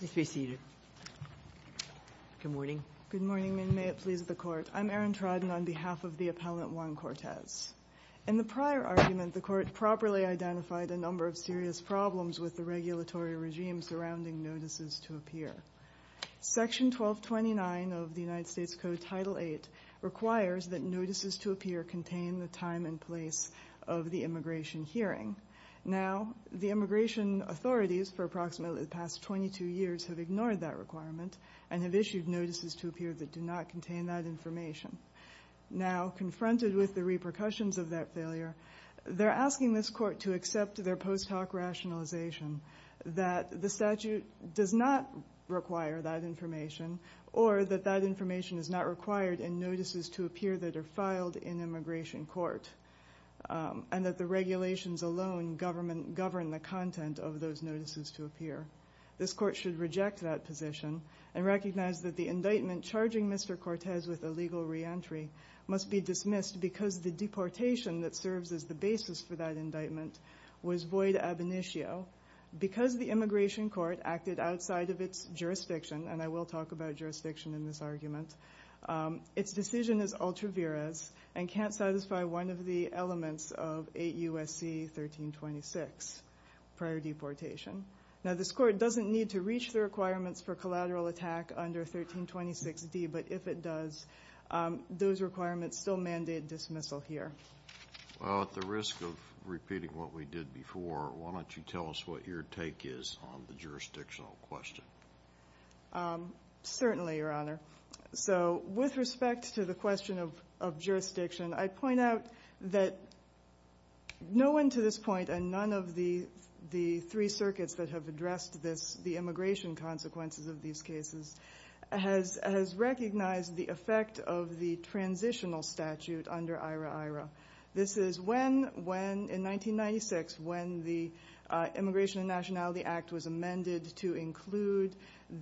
In the prior argument, the Court properly identified a number of serious problems with the regulatory regime surrounding notices to appear. Section 1229 of the United States Code, Title VIII, requires that notices to appear contain the time and place of the immigration hearing. Now, the immigration authorities, for approximately the past 22 years, have ignored that requirement and have issued notices to appear that do not contain that information. Now, confronted with the repercussions of that failure, they're asking this Court to accept their post hoc rationalization that the statute does not require that information or that that information is not required in notices to appear that are filed in immigration court, and that the regulations alone govern the content of those notices to appear. This Court should reject that position and recognize that the indictment charging Mr. Cortez with illegal reentry must be dismissed because the deportation that serves as the basis for that indictment was void ab initio, because the immigration court acted outside of its jurisdiction, and I will talk about jurisdiction in this argument. Its decision is ultra vires and can't satisfy one of the elements of 8 U.S.C. 1326, prior deportation. Now, this Court doesn't need to reach the requirements for collateral attack under 1326D, but if it does, those requirements still mandate dismissal here. Well, at the risk of repeating what we did before, why don't you tell us what your take is on the jurisdictional question? Certainly, Your Honor. So with respect to the question of jurisdiction, I point out that no one to this point, and none of the three circuits that have addressed this, the immigration consequences of these cases, has recognized the effect of the transitional statute under IRA-IRA. This is when, in 1996, when the Immigration and Nationality Act was amended to include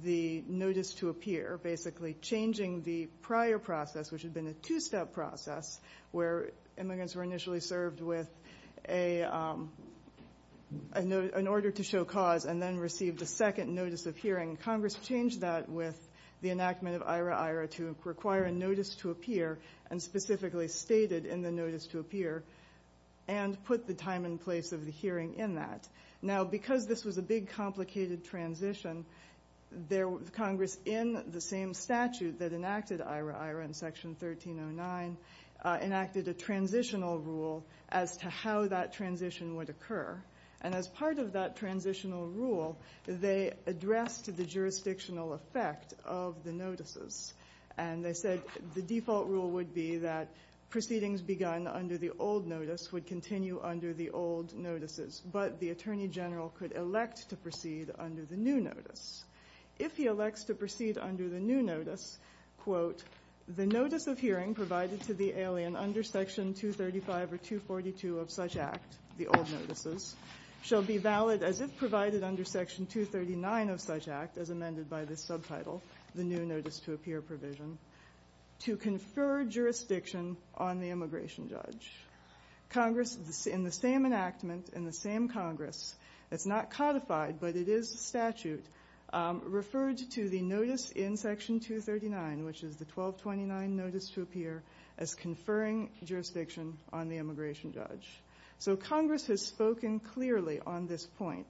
the notice to appear, basically changing the prior process, which had been a two-step process, where immigrants were initially served with an order to show cause and then received a second notice of hearing. Congress changed that with the enactment of IRA-IRA to require a notice to appear and specifically stated in the notice to appear, and put the time and place of the hearing in that. Now, because this was a big, complicated transition, Congress, in the same statute that enacted IRA-IRA in Section 1309, enacted a transitional rule as to how that transition would occur. And as part of that transitional rule, they addressed the jurisdictional effect of the notices. And they said the default rule would be that proceedings begun under the old notice would continue under the old notices, but the Attorney General could elect to proceed under the new notice. If he elects to proceed under the new notice, quote, the notice of hearing provided to the alien under Section 235 or 242 of such Act, the old notices, shall be valid as if provided under Section 239 of such Act, as amended by this subtitle, the new notice to appear provision, to confer jurisdiction on the immigration judge. Congress, in the same enactment, in the same Congress, it's not codified, but it is statute, referred to the notice in Section 239, which is the 1229 notice to appear, as conferring jurisdiction on the immigration judge. So Congress has spoken clearly on this point.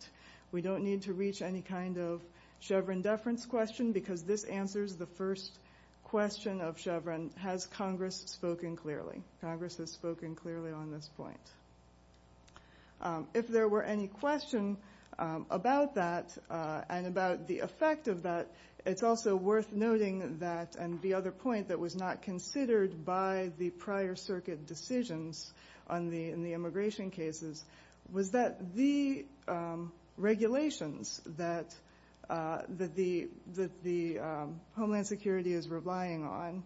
We don't need to reach any kind of Chevron deference question, because this answers the first question of Chevron, has Congress spoken clearly? Congress has spoken clearly on this point. If there were any question about that, and about the effect of that, it's also worth noting that, and the other point that was not considered by the prior circuit decisions on the, in the immigration cases, was that the regulations that the Homeland Security is relying on,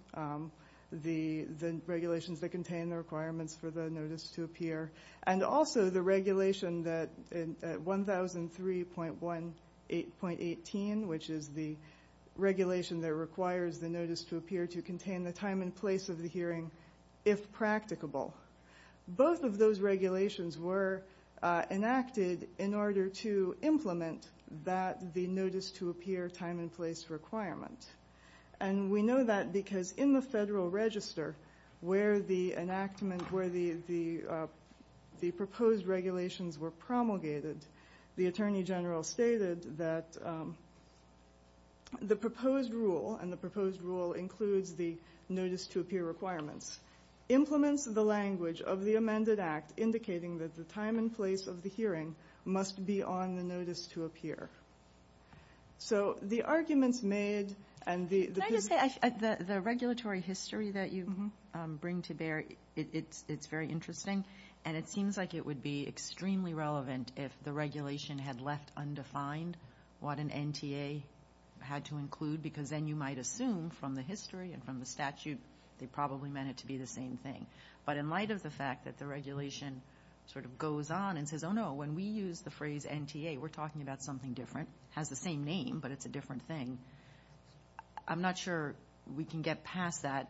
the regulations that contain the requirements for the notice to appear, and also the regulation that at 1003.18.18, which is the regulation that requires the notice to appear to contain the time and place of the hearing, if practicable. Both of those regulations were enacted in order to implement that, the notice to appear time and place requirement. And we know that because in the Federal Register, where the enactment, where the proposed regulations were promulgated, the Attorney General stated that the proposed rule, and the proposed rule includes the notice to appear requirements, implements the language of the amended act indicating that the time and place of the hearing must be on the notice to appear. So the arguments made, and the position. Can I just say, the regulatory history that you bring to bear, it's very interesting, and it seems like it would be extremely relevant if the regulation had left undefined what an NTA had to include, because then you might assume from the history and from the statute they probably meant it to be the same thing. But in light of the fact that the regulation sort of goes on and says, oh no, when we use the phrase NTA, we're talking about something different, has the same name, but it's a different thing. I'm not sure we can get past that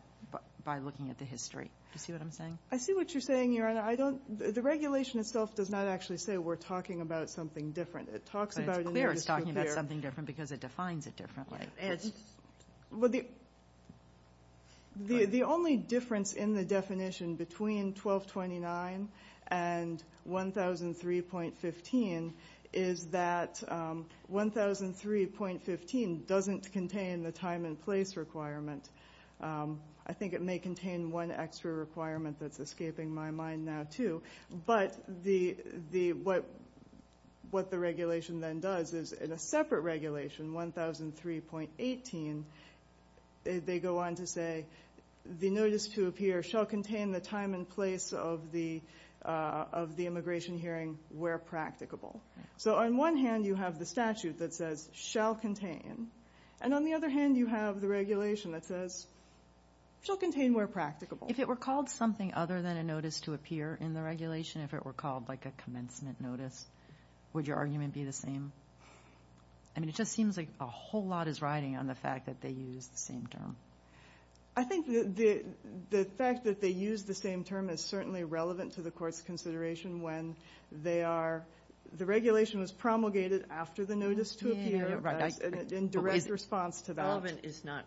by looking at the history. Do you see what I'm saying? I see what you're saying, Your Honor. The regulation itself does not actually say we're talking about something different. It talks about a notice to appear. But it's clear it's talking about something different because it defines it differently. The only difference in the definition between 1229 and 1003.15 is that 1003.15 doesn't contain the time and place requirement. I think it may contain one extra requirement that's escaping my mind now, too. But what the regulation then does is, in a separate regulation, 1003.18, they go on to say the notice to appear shall contain the time and place of the immigration hearing where practicable. So on one hand you have the statute that says shall contain, and on the other hand you have the regulation that says shall contain where practicable. If it were called something other than a notice to appear in the regulation, if it were called like a commencement notice, would your argument be the same? I mean, it just seems like a whole lot is riding on the fact that they use the same term. I think the fact that they use the same term is certainly relevant to the Court's consideration when they are, the regulation was promulgated after the notice to appear in direct response to that. Relevant is not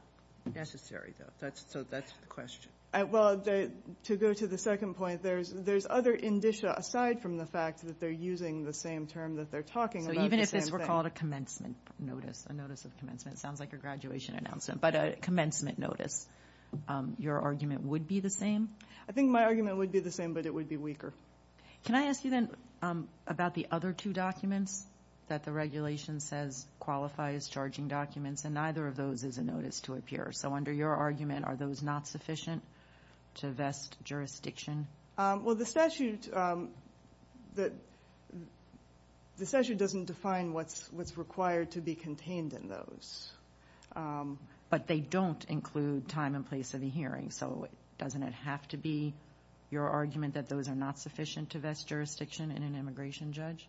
necessary, though. So that's the question. Well, to go to the second point, there's other indicia aside from the fact that they're using the same term that they're talking about. So even if this were called a commencement notice, a notice of commencement, sounds like a graduation announcement, but a commencement notice, your argument would be the same? I think my argument would be the same, but it would be weaker. Well, the statute, the statute doesn't define what's required to be contained in those. But they don't include time and place of the hearing. So doesn't it have to be your argument that those are not sufficient to vest jurisdiction in an immigration judge?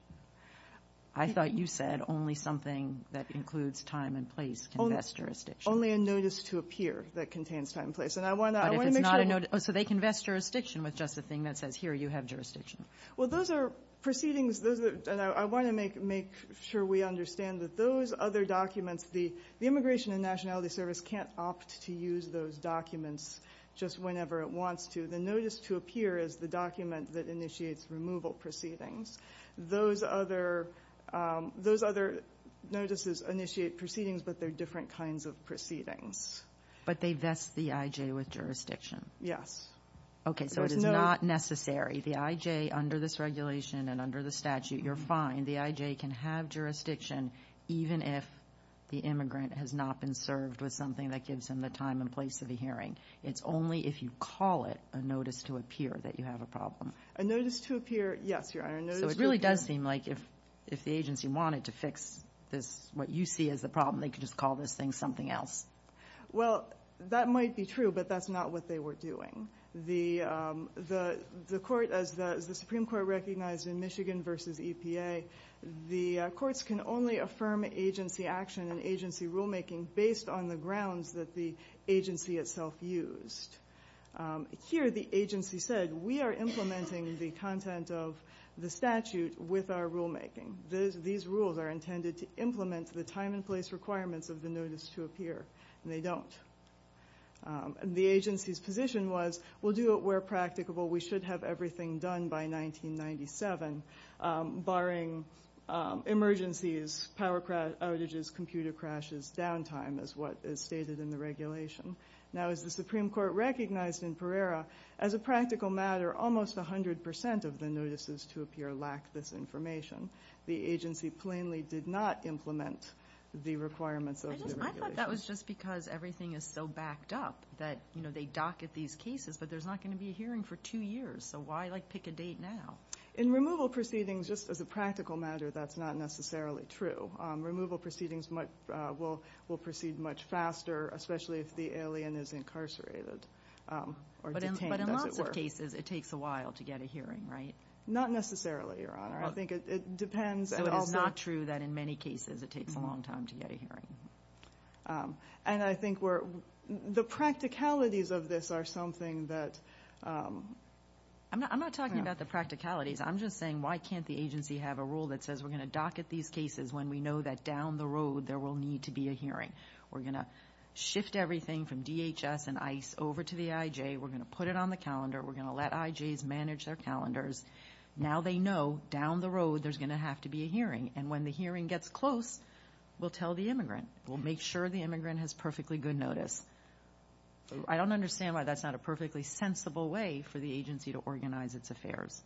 I thought you said only something that includes time and place can vest jurisdiction. Only a notice to appear that contains time and place. And I want to make sure But if it's not a notice, so they can vest jurisdiction with just a thing that says, here, you have jurisdiction. Well, those are proceedings. Those are, and I want to make sure we understand that those other documents, the Immigration and Nationality Service can't opt to use those documents just whenever it wants to. The notice to appear is the document that initiates removal proceedings. Those other notices initiate proceedings, but they're different kinds of proceedings. But they vest the IJ with jurisdiction. Yes. Okay. So it is not necessary. The IJ, under this regulation and under the statute, you're fine. The IJ can have jurisdiction even if the immigrant has not been served with something that gives him the time and place of the hearing. It's only if you call it a notice to appear that you have a problem. A notice to appear, yes, Your Honor. So it really does seem like if the agency wanted to fix this, what you see as the problem, they could just call this thing something else. Well, that might be true, but that's not what they were doing. The court, as the Supreme Court recognized in Michigan versus EPA, the courts can only affirm agency action and agency rulemaking based on the grounds that the agency itself used. Here, the agency said, we are implementing the content of the statute with our rulemaking. These rules are intended to implement the time and place requirements of the notice to appear. And they don't. The agency's position was, we'll do it where practicable. We should have everything done by 1997, barring emergencies, power outages, computer crashes, downtime, as what is stated in the regulation. Now, as the Supreme Court recognized in Pereira, as a practical matter, almost 100% of the notices to appear lack this information. The agency plainly did not implement the requirements of the regulation. I thought that was just because everything is so backed up that, you know, they docket these cases, but there's not going to be a hearing for two years. So why, like, pick a date now? In removal proceedings, just as a practical matter, that's not necessarily true. Removal proceedings will proceed much faster, especially if the alien is incarcerated or detained, as it were. But in lots of cases, it takes a while to get a hearing, right? Not necessarily, Your Honor. I think it depends. So it's not true that in many cases it takes a long time to get a hearing. And I think the practicalities of this are something that... I'm not talking about the practicalities. I'm just saying, why can't the agency have a rule that says we're going to docket these cases when we know that down the road there will need to be a hearing? We're going to shift everything from DHS and ICE over to the IJ. We're going to put it on the calendar. We're going to let IJs manage their calendars. Now they know, down the road, there's going to have to be a hearing. And when the hearing gets close, we'll tell the immigrant. We'll make sure the immigrant has perfectly good notice. I don't understand why that's not a perfectly sensible way for the agency to organize its affairs.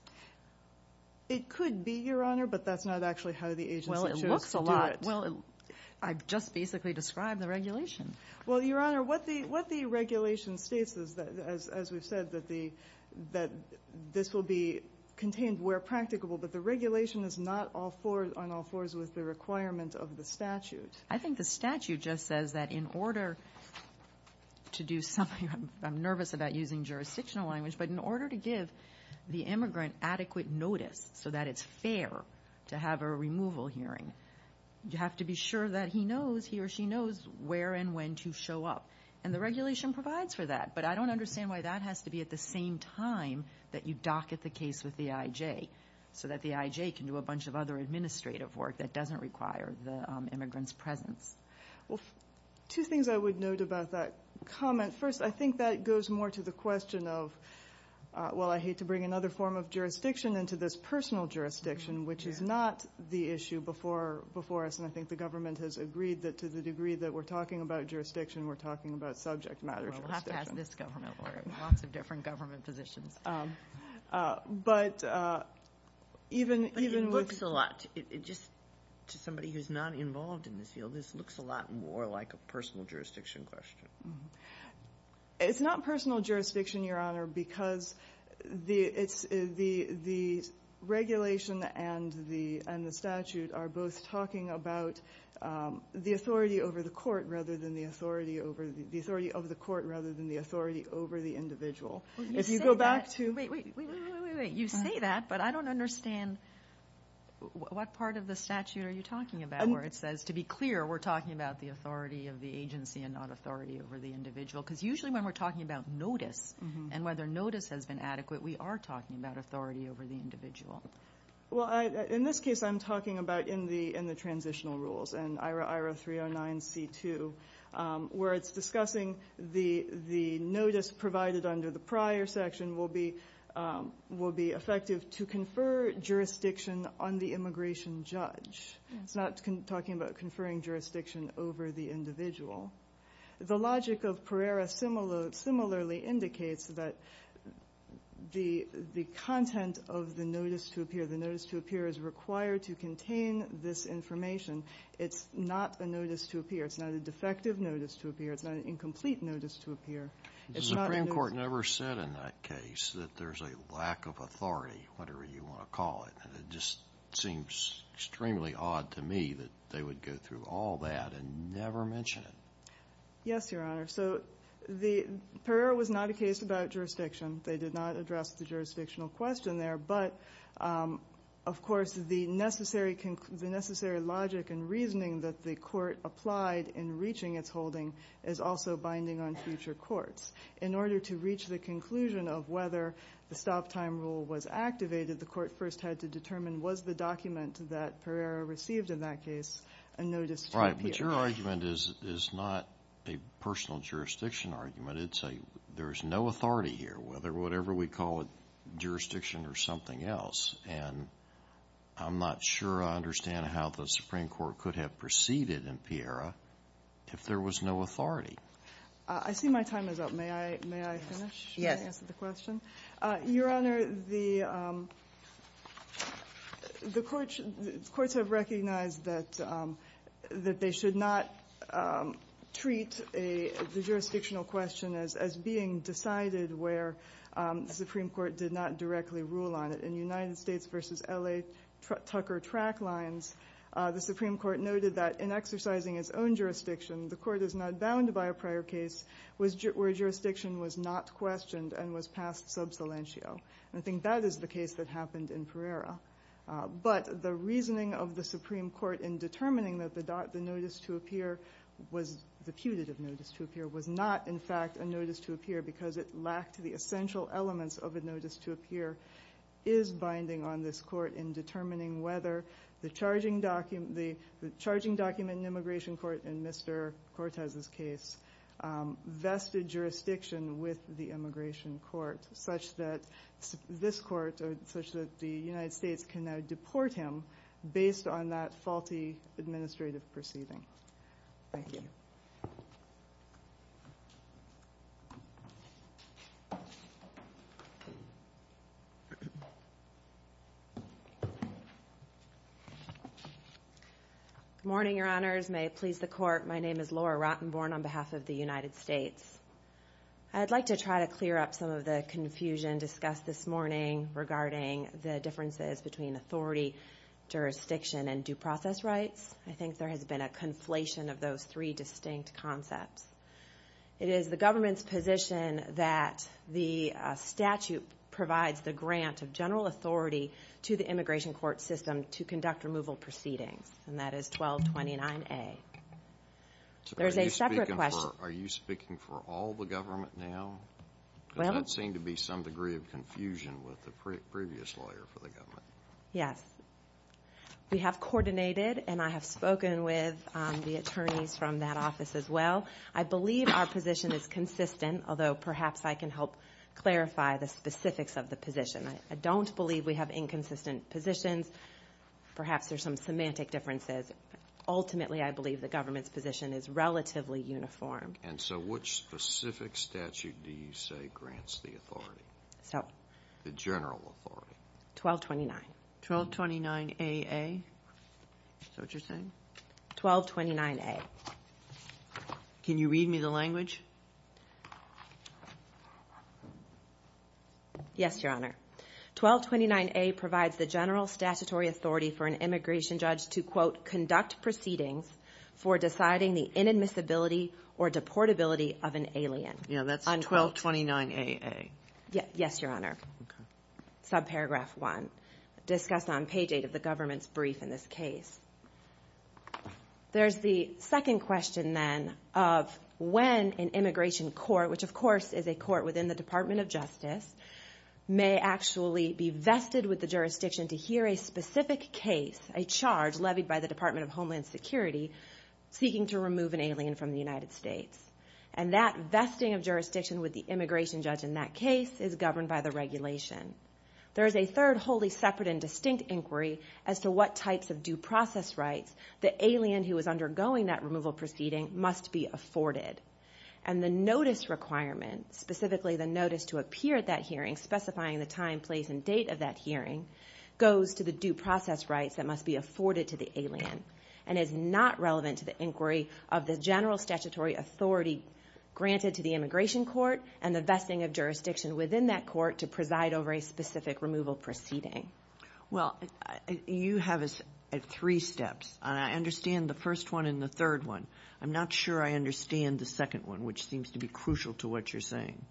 It could be, Your Honor, but that's not actually how the agency chose to do it. Well, it looks a lot. I just basically described the regulation. Well, Your Honor, what the regulation states is, as we've said, that this will be contained where practicable. But the regulation is not on all fours with the requirement of the statute. I think the statute just says that in order to do something... I'm nervous about using jurisdictional language. But in order to give the immigrant adequate notice so that it's fair to have a removal hearing, you have to be sure that he knows, he or she knows where and when to show up. And the regulation provides for that. But I don't understand why that has to be at the same time that you docket the case with the IJ, so that the IJ can do a bunch of other administrative work that doesn't require the immigrant's presence. Well, two things I would note about that comment. First, I think that goes more to the question of, well, I hate to bring another form of jurisdiction into this personal jurisdiction, which is not the issue before us. And I think the government has agreed that to the degree that we're talking about jurisdiction, we're talking about subject matter jurisdiction. We'll have to ask this government or lots of different government positions. But even... But it looks a lot... Just to somebody who's not involved in this field, this looks a lot more like a personal jurisdiction question. It's not personal jurisdiction, Your Honor, because the regulation and the statute are both talking about the authority of the court rather than the authority over the individual. If you go back to... Wait, wait, wait. You say that, but I don't understand what part of the statute are you talking about where it says, to be clear, we're talking about the authority of the agency and not authority over the individual. Because usually when we're talking about notice and whether notice has been adequate, we are talking about authority over the individual. Well, in this case, I'm talking about in the transitional rules and IRA 309C2, where it's discussing the notice provided under the prior section will be effective to confer jurisdiction on the immigration judge. It's not talking about conferring jurisdiction over the individual. The logic of Pereira similarly indicates that the content of the notice to appear, the notice to appear is required to contain this information. It's not a notice to appear. It's not a defective notice to appear. It's not an incomplete notice to appear. The Supreme Court never said in that case that there's a lack of authority, whatever you want to call it. And it just seems extremely odd to me that they would go through all that and never mention it. Yes, Your Honor. So the Pereira was not a case about jurisdiction. They did not address the jurisdictional question there. But, of course, the necessary logic and reasoning that the court applied in reaching its holding is also binding on future courts. In order to reach the conclusion of whether the stop-time rule was activated, the court first had to determine was the document that Pereira received in that case a notice to appear. Right. But your argument is not a personal jurisdiction argument. It's a there's no authority here, whether whatever we call it, jurisdiction or something else. And I'm not sure I understand how the Supreme Court could have proceeded in Pereira if there was no authority. I see my time is up. May I finish? Yes. Answer the question? Your Honor, the courts have recognized that they should not treat the jurisdictional question as being decided where the Supreme Court did not directly rule on it. In United States v. L.A. Tucker track lines, the Supreme Court noted that in exercising its own jurisdiction, the court is not bound by a prior case where jurisdiction was not questioned and was passed sub salientio. I think that is the case that happened in Pereira. But the reasoning of the Supreme Court in determining that the notice to appear was the putative notice to appear was not in fact a notice to appear because it lacked the essential elements of a notice to appear is binding on this court in determining whether the charging document in immigration court in Mr. Cortez's case, vested jurisdiction with the immigration court such that this court, such that the United States can now deport him based on that faulty administrative proceeding. Thank you. Good morning, Your Honors. May it please the court. My name is Laura Rottenborn on behalf of the United States. I'd like to try to clear up some of the confusion discussed this morning regarding the differences between authority, jurisdiction, and due process rights. I think there has been a conflation of those three distinct concepts. It is the government's position that the statute provides the grant of general authority to the immigration court system to conduct removal proceedings. And that is 1229A. There's a separate question. So are you speaking for all the government now? Well. Does that seem to be some degree of confusion with the previous lawyer for the government? Yes. We have coordinated and I have spoken with the attorneys from that office as well. I believe our position is consistent, although perhaps I can help clarify the specifics of the position. I don't believe we have inconsistent positions. Perhaps there's some semantic differences. Ultimately, I believe the government's position is relatively uniform. And so which specific statute do you say grants the authority? The general authority? 1229. 1229AA? Is that what you're saying? 1229A. Can you read me the language? Yes, Your Honor. 1229A provides the general statutory authority for an immigration judge to, quote, conduct proceedings for deciding the inadmissibility or deportability of an alien. Yeah. That's 1229AA. Yes, Your Honor. Okay. Subparagraph one. Discussed on page eight of the government's brief in this case. There's the second question then of when an immigration court, which of course is a court within the Department of Justice, may actually be vested with the jurisdiction to hear a specific case, a charge levied by the Department of Homeland Security seeking to remove an alien from the United States. And that vesting of jurisdiction with the immigration judge in that case is governed by the regulation. There is a third wholly separate and distinct inquiry as to what types of due process rights the alien who is undergoing that removal proceeding must be afforded. And the notice requirement, specifically the notice to appear at that hearing specifying the time, place, and date of that hearing, goes to the due process rights that must be afforded to the alien and is not relevant to the inquiry of the general statutory authority granted to the immigration court and the vesting of jurisdiction within that court to preside over a specific removal proceeding. Well, you have three steps, and I understand the first one and the third one. I'm not sure I understand the second one, which seems to be crucial to what you're saying.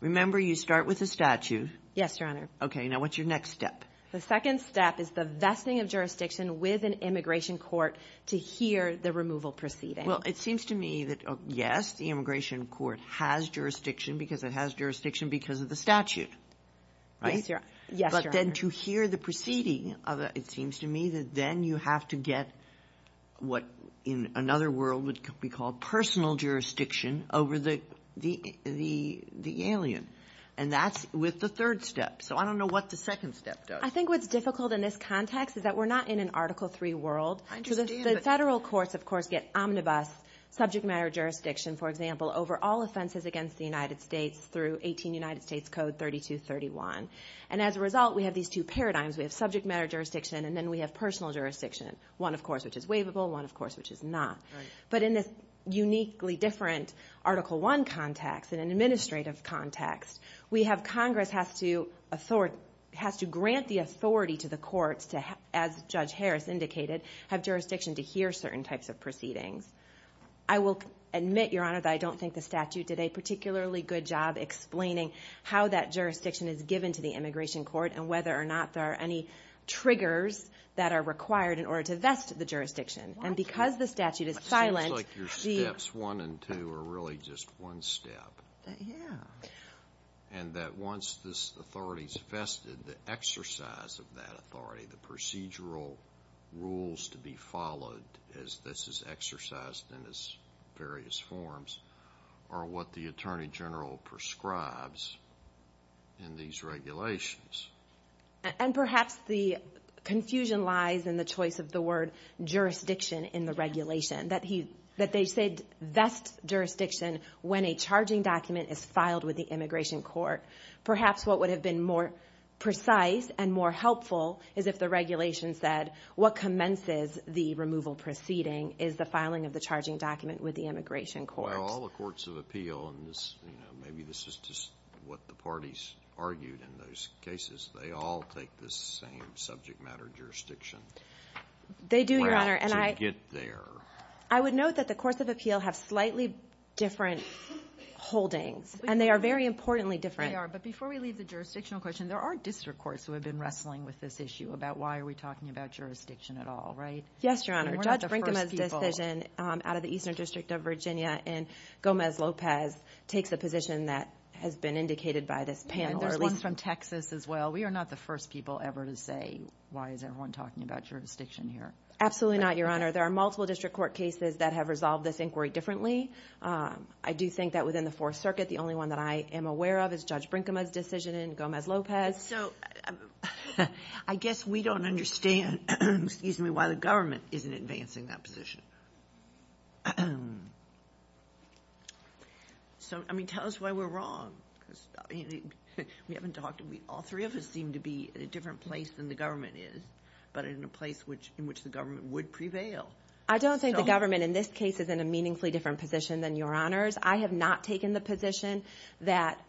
Remember, you start with a statute. Yes, Your Honor. Okay. Now, what's your next step? The second step is the vesting of jurisdiction with an immigration court to hear the removal proceeding. Well, it seems to me that, yes, the immigration court has jurisdiction because it has jurisdiction because of the statute. Right? Yes, Your Honor. But then to hear the proceeding, it seems to me that then you have to get what in another world would be called personal jurisdiction over the alien. And that's with the third step. So I don't know what the second step does. I think what's difficult in this context is that we're not in an Article III world. I understand. The federal courts, of course, get omnibus subject matter jurisdiction, for example, over all offenses against the United States through 18 United States Code 3231. And as a result, we have these two paradigms. We have subject matter jurisdiction, and then we have personal jurisdiction, one, of course, which is waivable, one, of course, which is not. But in this uniquely different Article I context, in an administrative context, we have Congress has to grant the authority to the courts to, as Judge Harris indicated, have jurisdiction to hear certain types of proceedings. I will admit, Your Honor, that I don't think the statute did a particularly good job explaining how that jurisdiction is given to the immigration court, and whether or not there are any triggers that are required in order to vest the jurisdiction. And because the statute is silent, the- It seems like your steps one and two are really just one step. Yeah. And that once this authority is vested, the exercise of that authority, the procedural rules to be followed as this is exercised in its various forms, are what the Attorney General prescribes in these regulations. And perhaps the confusion lies in the choice of the word jurisdiction in the regulation, that they said vest jurisdiction when a charging document is filed with the immigration court. Perhaps what would have been more precise and more helpful is if the regulation said what commences the removal proceeding is the filing of the charging document with the immigration court. But if they're all the courts of appeal, and this, you know, maybe this is just what the parties argued in those cases, they all take the same subject matter jurisdiction They do, Your Honor. And I would note that the courts of appeal have slightly different holdings. And they are very importantly different. They are. But before we leave the jurisdictional question, there are district courts who have been wrestling with this issue about why are we talking about jurisdiction at all, right? Yes, Your Honor. Judge Brinkema's decision out of the Eastern District of Virginia and Gomez-Lopez takes a position that has been indicated by this panel. And there's one from Texas as well. We are not the first people ever to say, why is everyone talking about jurisdiction here? Absolutely not, Your Honor. There are multiple district court cases that have resolved this inquiry differently. I do think that within the Fourth Circuit, the only one that I am aware of is Judge Brinkema's decision and Gomez-Lopez. So, I guess we don't understand, excuse me, why the government isn't advancing that position. So I mean, tell us why we're wrong, because we haven't talked, all three of us seem to be in a different place than the government is, but in a place in which the government would prevail. I don't think the government in this case is in a meaningfully different position than Your Honors. I have not taken the position that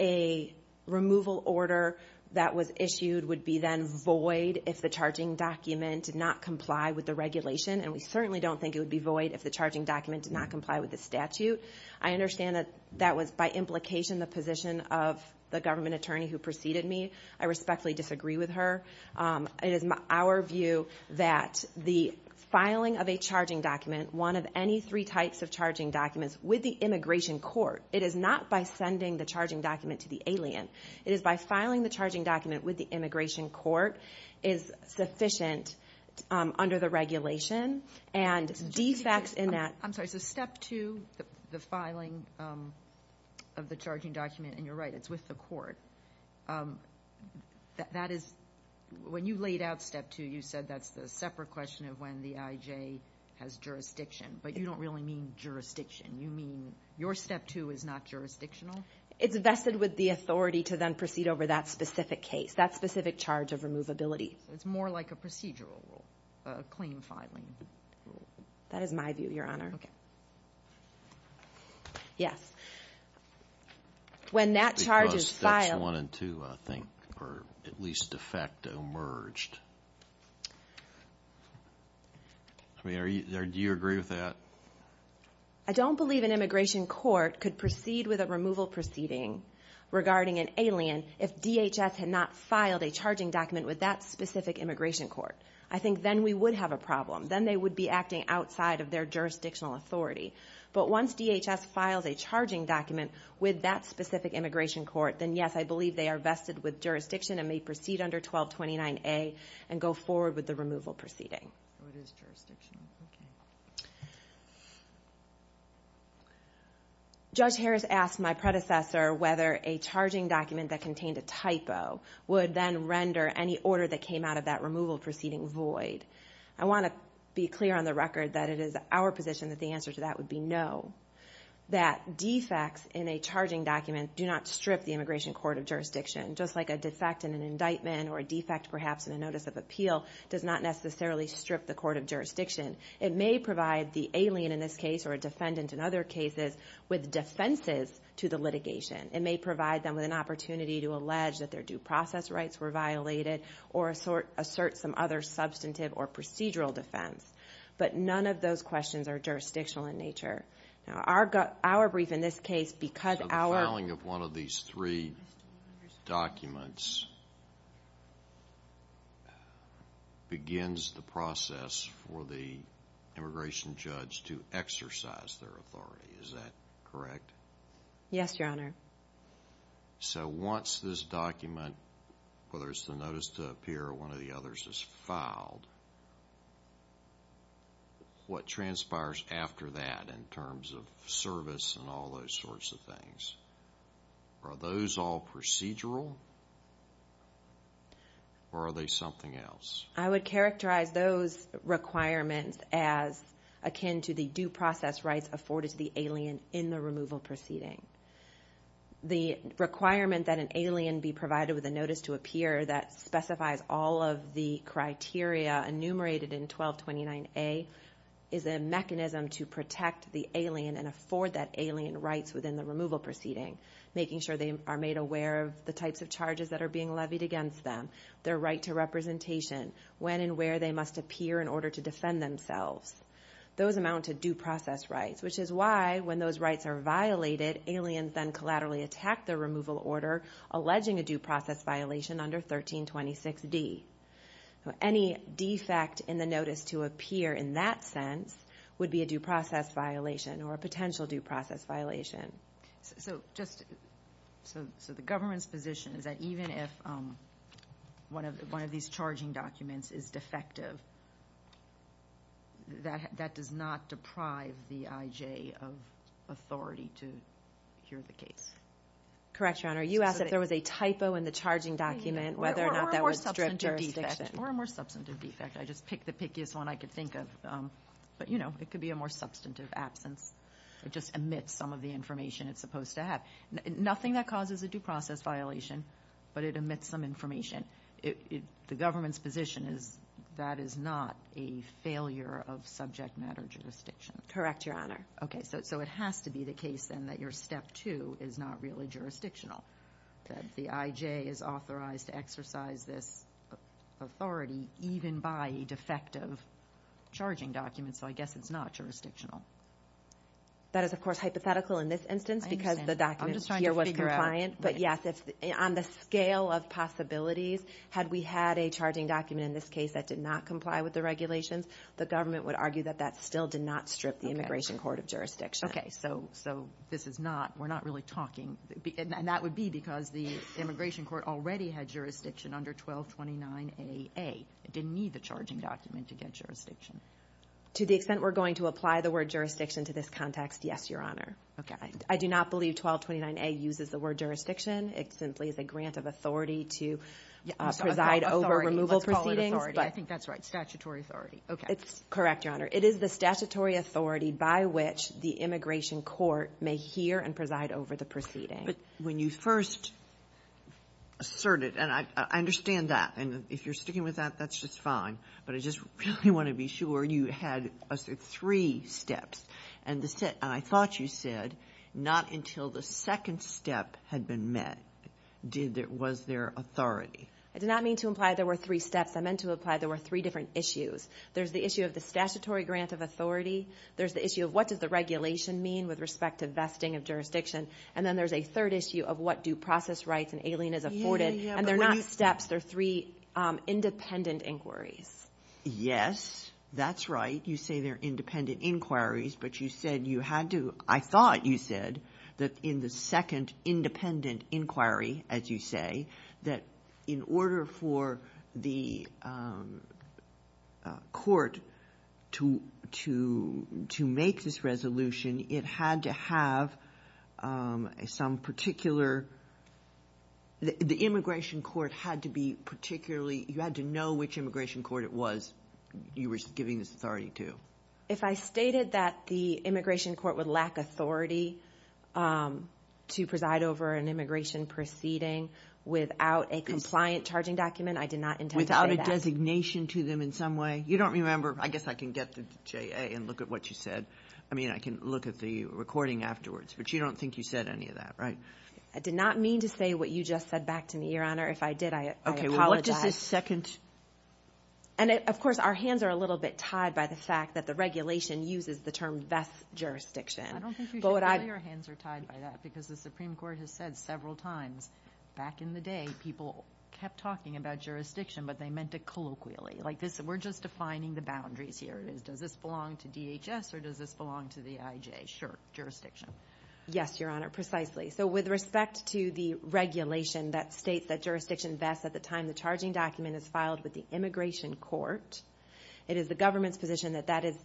a removal order that was issued would be then void if the charging document did not comply with the regulation, and we certainly don't think it would be void if the charging document did not comply with the statute. I understand that that was by implication the position of the government attorney who preceded me. I respectfully disagree with her. It is our view that the filing of a charging document, one of any three types of charging documents, with the immigration court, it is not by sending the charging document to the alien. It is by filing the charging document with the immigration court, is sufficient under the regulation, and defects in that. I'm sorry, so step two, the filing of the charging document, and you're right, it's with the court. That is, when you laid out step two, you said that's the separate question of when the IJ has jurisdiction, but you don't really mean jurisdiction. You mean your step two is not jurisdictional? It's vested with the authority to then proceed over that specific case, that specific charge of removability. So it's more like a procedural rule, a claim filing rule. That is my view, Your Honor. Okay. Yes. When that charge is filed. Because steps one and two, I think, or at least de facto, merged. I mean, do you agree with that? I don't believe an immigration court could proceed with a removal proceeding regarding an alien if DHS had not filed a charging document with that specific immigration court. I think then we would have a problem. Then they would be acting outside of their jurisdictional authority. But once DHS files a charging document with that specific immigration court, then yes, I believe they are vested with jurisdiction and may proceed under 1229A and go forward with the removal proceeding. So it is jurisdictional. Okay. Judge Harris asked my predecessor whether a charging document that contained a typo would then render any order that came out of that removal proceeding void. I want to be clear on the record that it is our position that the answer to that would be no. That defects in a charging document do not strip the immigration court of jurisdiction. Just like a defect in an indictment or a defect perhaps in a notice of appeal does not necessarily strip the court of jurisdiction. It may provide the alien in this case or a defendant in other cases with defenses to the litigation. It may provide them with an opportunity to allege that their due process rights were violated or assert some other substantive or procedural defense. But none of those questions are jurisdictional in nature. Now, our brief in this case, because our... So the filing of one of these three documents begins the process for the immigration judge to exercise their authority, is that correct? Yes, Your Honor. So once this document, whether it's the notice to appear or one of the others is filed, what transpires after that in terms of service and all those sorts of things? Are those all procedural or are they something else? I would characterize those requirements as akin to the due process rights afforded to the alien in the removal proceeding. The requirement that an alien be provided with a notice to appear that specifies all of the criteria enumerated in 1229A is a mechanism to protect the alien and afford that alien rights within the removal proceeding, making sure they are made aware of the types of charges that are being levied against them, their right to representation, when and where they must appear in order to defend themselves. Those amount to due process rights, which is why when those rights are violated, aliens then collaterally attack the removal order, alleging a due process violation under 1326D. Any defect in the notice to appear in that sense would be a due process violation or a potential due process violation. So just... So the government's position is that even if one of these charging documents is defective, that does not deprive the IJ of authority to hear the case. Correct, Your Honor. You asked if there was a typo in the charging document, whether or not that was strict jurisdiction. Or a more substantive defect. Or a more substantive defect. I just picked the pickiest one I could think of. But, you know, it could be a more substantive absence. It just omits some of the information it's supposed to have. Nothing that causes a due process violation, but it omits some information. The government's position is that is not a failure of subject matter jurisdiction. Correct, Your Honor. Okay, so it has to be the case then that your step two is not really jurisdictional. That the IJ is authorized to exercise this authority even by a defective charging document. So I guess it's not jurisdictional. That is, of course, hypothetical in this instance because the document here was compliant. But, yes, on the scale of possibilities, had we had a charging document in this case that did not comply with the regulations, the government would argue that that still did not strip the immigration court of jurisdiction. Okay, so this is not, we're not really talking, and that would be because the immigration court already had jurisdiction under 1229AA. It didn't need the charging document to get jurisdiction. To the extent we're going to apply the word jurisdiction to this context, yes, Your Honor. Okay. I do not believe 1229A uses the word jurisdiction. It simply is a grant of authority to preside over removal proceedings. Authority, let's call it authority. I think that's right, statutory authority. Okay. It's correct, Your Honor. It is the statutory authority by which the immigration court may hear and preside over the proceeding. But when you first asserted, and I understand that, and if you're sticking with that, that's just fine. But I just really want to be sure you had three steps. And I thought you said not until the second step had been met was there authority. I did not mean to imply there were three steps. I meant to imply there were three different issues. There's the issue of the statutory grant of authority. There's the issue of what does the regulation mean with respect to vesting of jurisdiction. And then there's a third issue of what do process rights and alien as afforded. And they're not steps. They're three independent inquiries. Yes, that's right. You say they're independent inquiries, but you said you had to, I thought you said, that in the second independent inquiry, as you say, that in order for the court to make this resolution, it had to have some particular, the immigration court had to be particularly, you had to know which immigration court it was you were giving this authority to. If I stated that the immigration court would lack authority to preside over an immigration proceeding without a compliant charging document, I did not intend to say that. Without a designation to them in some way. You don't remember. I guess I can get to JA and look at what you said. I mean, I can look at the recording afterwards. But you don't think you said any of that, right? I did not mean to say what you just said back to me, Your Honor. If I did, I apologize. What does this second? And, of course, our hands are a little bit tied by the fact that the regulation uses the term vest jurisdiction. I don't think you should say your hands are tied by that, because the Supreme Court has said several times, back in the day, people kept talking about jurisdiction, but they meant it colloquially. Like, we're just defining the boundaries here. Does this belong to DHS, or does this belong to the IJ? Sure, jurisdiction. Yes, Your Honor, precisely. So, with respect to the regulation that states that jurisdiction vests at the time the charging document is filed with the immigration court, it is the government's position that that is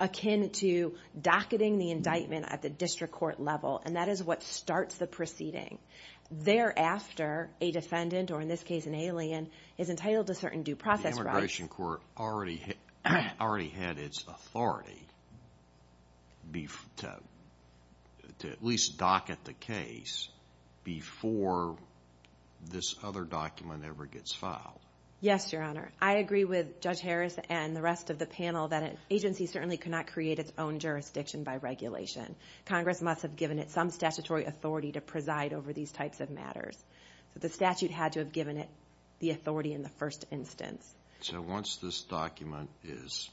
akin to docketing the indictment at the district court level, and that is what starts the proceeding. Thereafter, a defendant, or in this case an alien, is entitled to certain due process rights. The immigration court already had its authority to at least docket the case before this other document ever gets filed. Yes, Your Honor. I agree with Judge Harris and the rest of the panel that an agency certainly cannot create its own jurisdiction by regulation. Congress must have given it some statutory authority to preside over these types of matters. So, the statute had to have given it the authority in the first instance. So, once this document is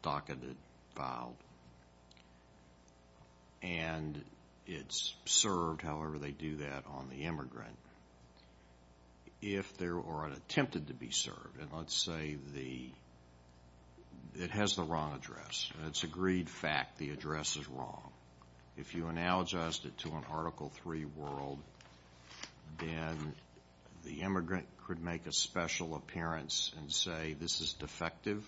docketed, filed, and it's served, however they do that on the immigrant, if there were an attempt to be served, and let's say it has the wrong address, and it's agreed fact the address is wrong, if you analogized it to an Article III world, then the immigrant could make a special appearance and say, this is defective,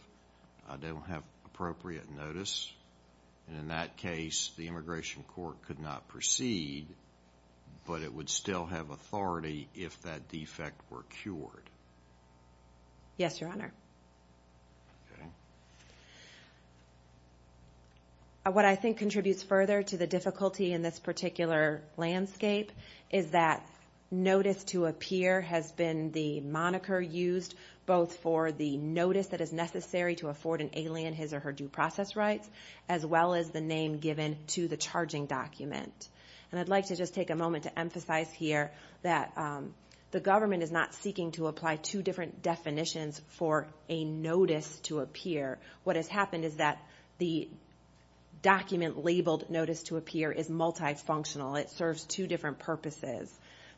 I don't have appropriate notice. And in that case, the immigration court could not proceed, but it would still have authority if that defect were cured. Yes, Your Honor. Okay. What I think contributes further to the difficulty in this particular landscape is that notice to appear has been the moniker used, both for the notice that is necessary to afford an alien his or her due process rights, as well as the name given to the charging document. And I'd like to just take a moment to emphasize here that the government is not seeking to apply two different definitions for a notice to appear. What has happened is that the document labeled notice to appear is multifunctional. It serves two different purposes.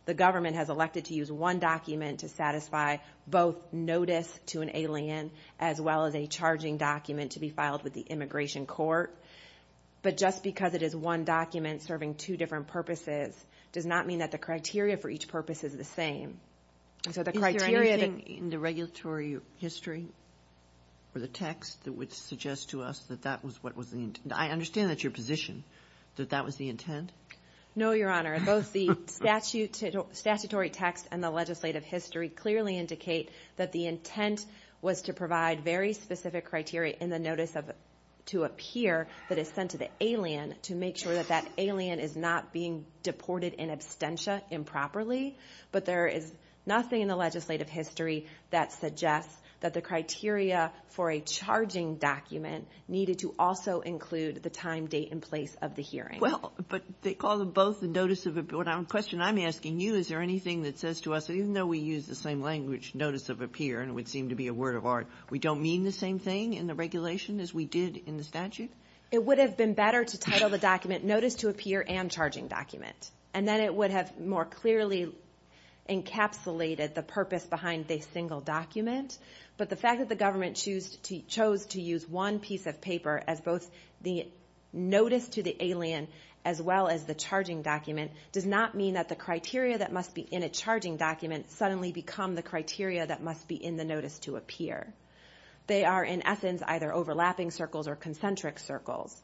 The government has elected to use one document to satisfy both notice to an alien, as well as a charging document to be filed with the immigration court. But just because it is one document serving two different purposes does not mean that the criteria for each purpose is the same. Is there anything in the regulatory history or the text that would suggest to us that that was what was the intent? I understand that's your position, that that was the intent. No, Your Honor. Both the statutory text and the legislative history clearly indicate that the intent was to provide very specific criteria in the notice to appear that is sent to the alien to make sure that that alien is not being deported in absentia improperly. But there is nothing in the legislative history that suggests that the criteria for a charging document needed to also include the time, date, and place of the hearing. Well, but they call them both the notice of appearance. The question I'm asking you, is there anything that says to us, even though we use the same language, notice of appear, and it would seem to be a word of art, we don't mean the same thing in the regulation as we did in the statute? It would have been better to title the document notice to appear and charging document. And then it would have more clearly encapsulated the purpose behind the single document. But the fact that the government chose to use one piece of paper as both the notice to the alien as well as the charging document does not mean that the criteria that must be in a charging document suddenly become the criteria that must be in the notice to appear. They are, in essence, either overlapping circles or concentric circles.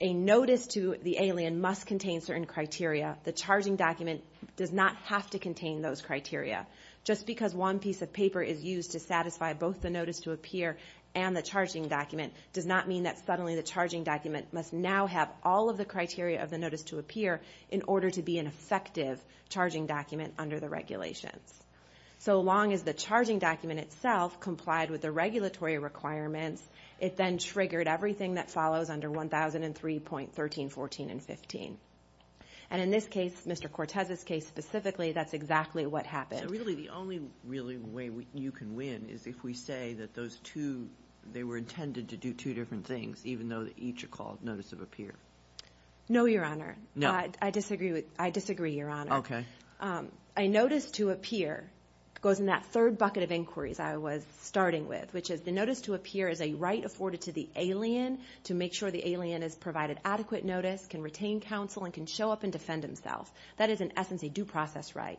A notice to the alien must contain certain criteria. The charging document does not have to contain those criteria. Just because one piece of paper is used to satisfy both the notice to appear and the charging document does not mean that suddenly the charging document must now have all of the criteria of the notice to appear in order to be an effective charging document under the regulations. So long as the charging document itself complied with the regulatory requirements, it then triggered everything that follows under 1003.13, 14, and 15. And in this case, Mr. Cortez's case specifically, that's exactly what happened. So really the only really way you can win is if we say that those two, they were intended to do two different things even though each are called notice of appear. No, Your Honor. No. I disagree, Your Honor. Okay. A notice to appear goes in that third bucket of inquiries I was starting with, which is the notice to appear is a right afforded to the alien to make sure the alien has provided adequate notice, can retain counsel, and can show up and defend himself. That is in essence a due process right.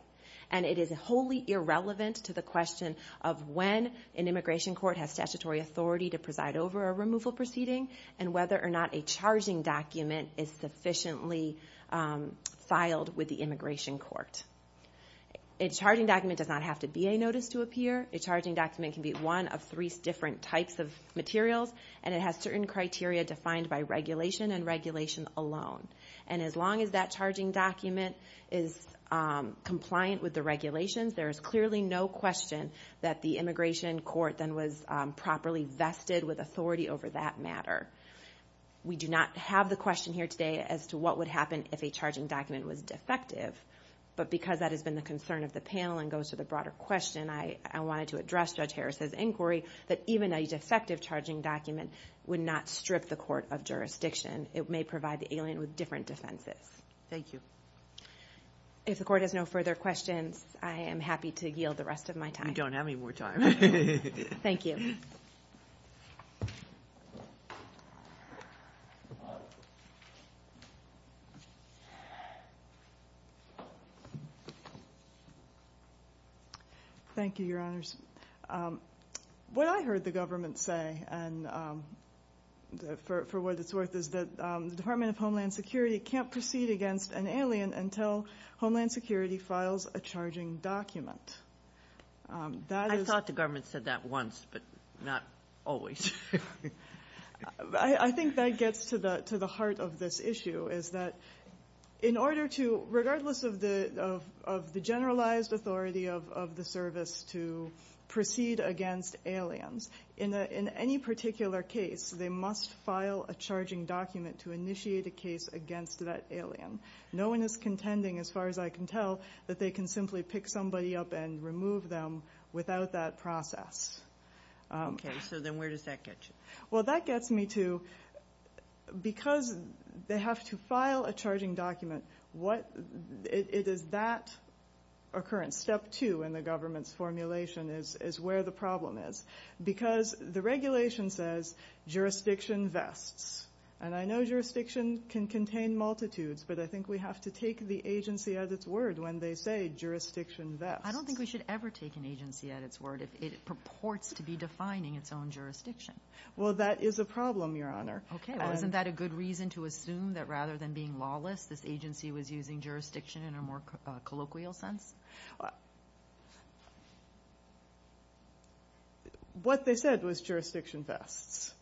And it is wholly irrelevant to the question of when an immigration court has statutory authority to preside over a removal proceeding and whether or not a charging document is sufficiently filed with the immigration court. A charging document does not have to be a notice to appear. A charging document can be one of three different types of materials, and it has certain criteria defined by regulation and regulation alone. And as long as that charging document is compliant with the regulations, there is clearly no question that the immigration court then was properly vested with authority over that matter. We do not have the question here today as to what would happen if a charging document was defective. But because that has been the concern of the panel and goes to the broader question, I wanted to address Judge Harris's inquiry that even a defective charging document would not strip the court of jurisdiction. It may provide the alien with different defenses. Thank you. If the court has no further questions, I am happy to yield the rest of my time. You don't have any more time. Thank you. Thank you, Your Honors. What I heard the government say, for what it's worth, is that the Department of Homeland Security can't proceed against an alien until Homeland Security files a charging document. I thought the government said that once, but not always. I think that gets to the heart of this issue, is that in order to, regardless of the generalized authority of the service to proceed against aliens, in any particular case, they must file a charging document to initiate a case against that alien. No one is contending, as far as I can tell, that they can simply pick somebody up and remove them without that process. Okay, so then where does that get you? Well, that gets me to, because they have to file a charging document, it is that occurrence. Step two in the government's formulation is where the problem is. Because the regulation says jurisdiction vests. And I know jurisdiction can contain multitudes, but I think we have to take the agency at its word when they say jurisdiction vests. I don't think we should ever take an agency at its word if it purports to be defining its own jurisdiction. Well, that is a problem, Your Honor. Okay, well, isn't that a good reason to assume that rather than being lawless, this agency was using jurisdiction in a more colloquial sense? What they said was jurisdiction vests.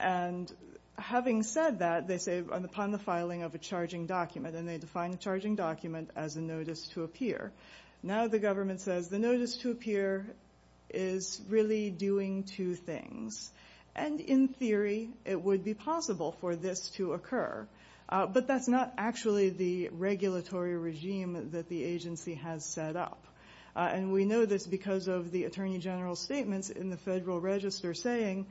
And having said that, they say, upon the filing of a charging document, and they define a charging document as a notice to appear. Now the government says the notice to appear is really doing two things. And in theory, it would be possible for this to occur. But that's not actually the regulatory regime that the agency has set up. And we know this because of the Attorney General's statements in the Federal Register saying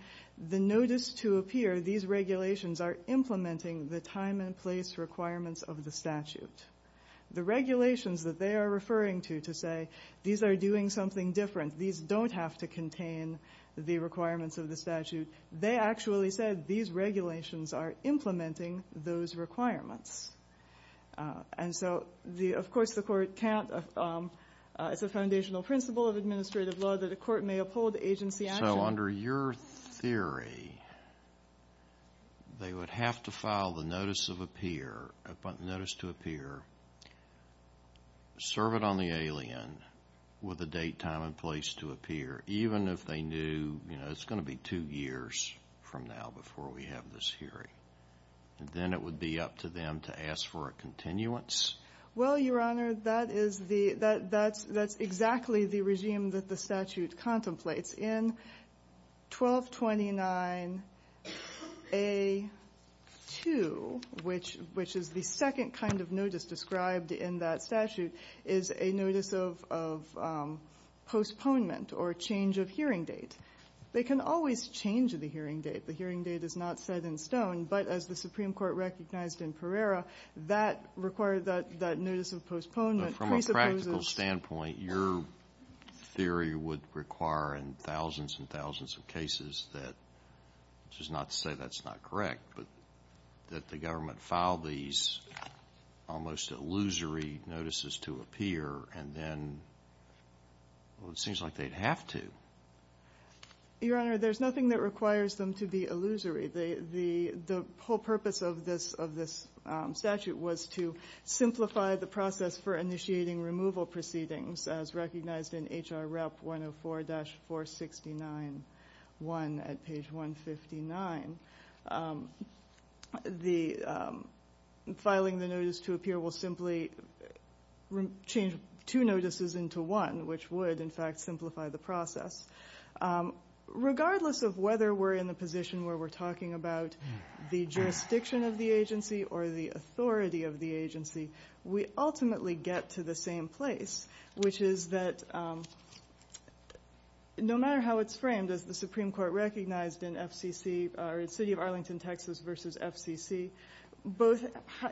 the notice to appear, these regulations, are implementing the time and place requirements of the statute. The regulations that they are referring to to say these are doing something different, these don't have to contain the requirements of the statute, they actually said these regulations are implementing those requirements. And so, of course, the Court can't, it's a foundational principle of administrative law that a court may uphold agency action. So under your theory, they would have to file the notice to appear, serve it on the alien with a date, time, and place to appear, even if they knew, you know, it's going to be two years from now before we have this hearing. Then it would be up to them to ask for a continuance? Well, Your Honor, that's exactly the regime that the statute contemplates. In 1229A2, which is the second kind of notice described in that statute, is a notice of postponement or change of hearing date. They can always change the hearing date. The hearing date is not set in stone. But as the Supreme Court recognized in Pereira, that required that notice of postponement. From a practical standpoint, your theory would require in thousands and thousands of cases that, which is not to say that's not correct, but that the government filed these almost illusory notices to appear, and then, well, it seems like they'd have to. Your Honor, there's nothing that requires them to be illusory. The whole purpose of this statute was to simplify the process for initiating removal proceedings, as recognized in H.R. Rep. 104-469-1 at page 159. The filing the notice to appear will simply change two notices into one, which would, in fact, simplify the process. Regardless of whether we're in the position where we're talking about the jurisdiction of the agency or the authority of the agency, we ultimately get to the same place, which is that no matter how it's framed, as the Supreme Court recognized in FCC, or the city of Arlington, Texas, versus FCC, both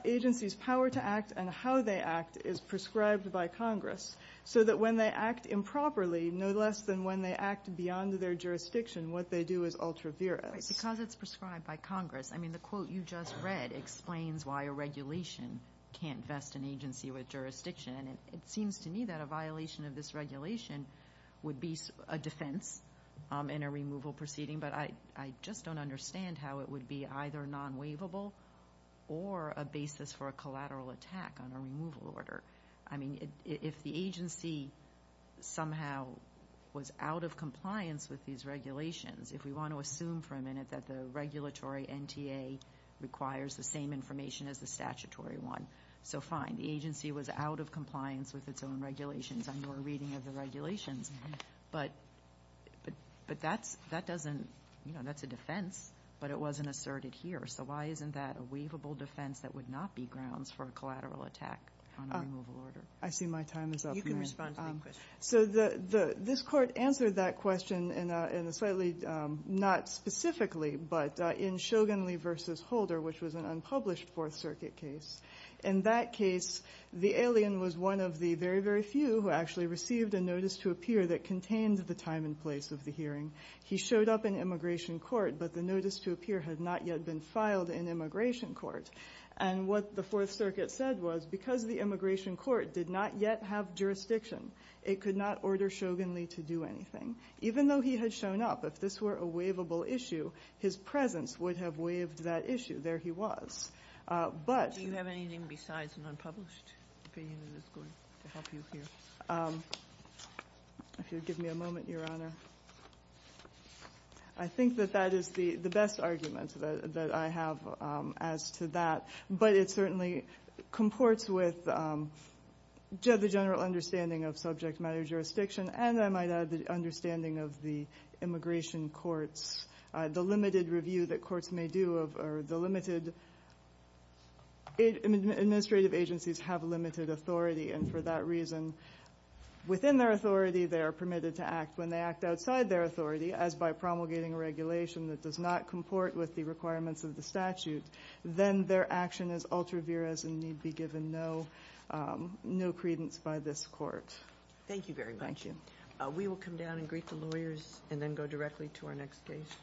agencies' power to act and how they act is prescribed by Congress, so that when they act improperly, no less than when they act beyond their jurisdiction, what they do is ultra-virus. Because it's prescribed by Congress, I mean, the quote you just read explains why a regulation can't vest an agency with jurisdiction. It seems to me that a violation of this regulation would be a defense in a removal proceeding, but I just don't understand how it would be either non-waivable or a basis for a collateral attack on a removal order. I mean, if the agency somehow was out of compliance with these regulations, if we want to assume for a minute that the regulatory NTA requires the same information as the statutory one, so fine, the agency was out of compliance with its own regulations on your reading of the regulations, but that's a defense, but it wasn't asserted here. So why isn't that a waivable defense that would not be grounds for a collateral attack on a removal order? I see my time is up. You can respond to the question. So this Court answered that question in a slightly, not specifically, but in Shogunley v. Holder, which was an unpublished Fourth Circuit case. In that case, the alien was one of the very, very few who actually received a notice to appear that contained the time and place of the hearing. He showed up in immigration court, but the notice to appear had not yet been filed in immigration court. And what the Fourth Circuit said was because the immigration court did not yet have jurisdiction, it could not order Shogunley to do anything. Even though he had shown up, if this were a waivable issue, his presence would have waived that issue. There he was. But you have anything besides an unpublished opinion that is going to help you here? If you'll give me a moment, Your Honor. I think that that is the best argument that I have as to that. But it certainly comports with the general understanding of subject matter jurisdiction and, I might add, the understanding of the immigration courts. The limited review that courts may do or the limited administrative agencies have limited authority. And for that reason, within their authority, they are permitted to act. When they act outside their authority, as by promulgating a regulation that does not comport with the requirements of the statute, then their action is ultra viris and need be given no credence by this court. Thank you very much. Thank you. We will come down and greet the lawyers and then go directly to our next case.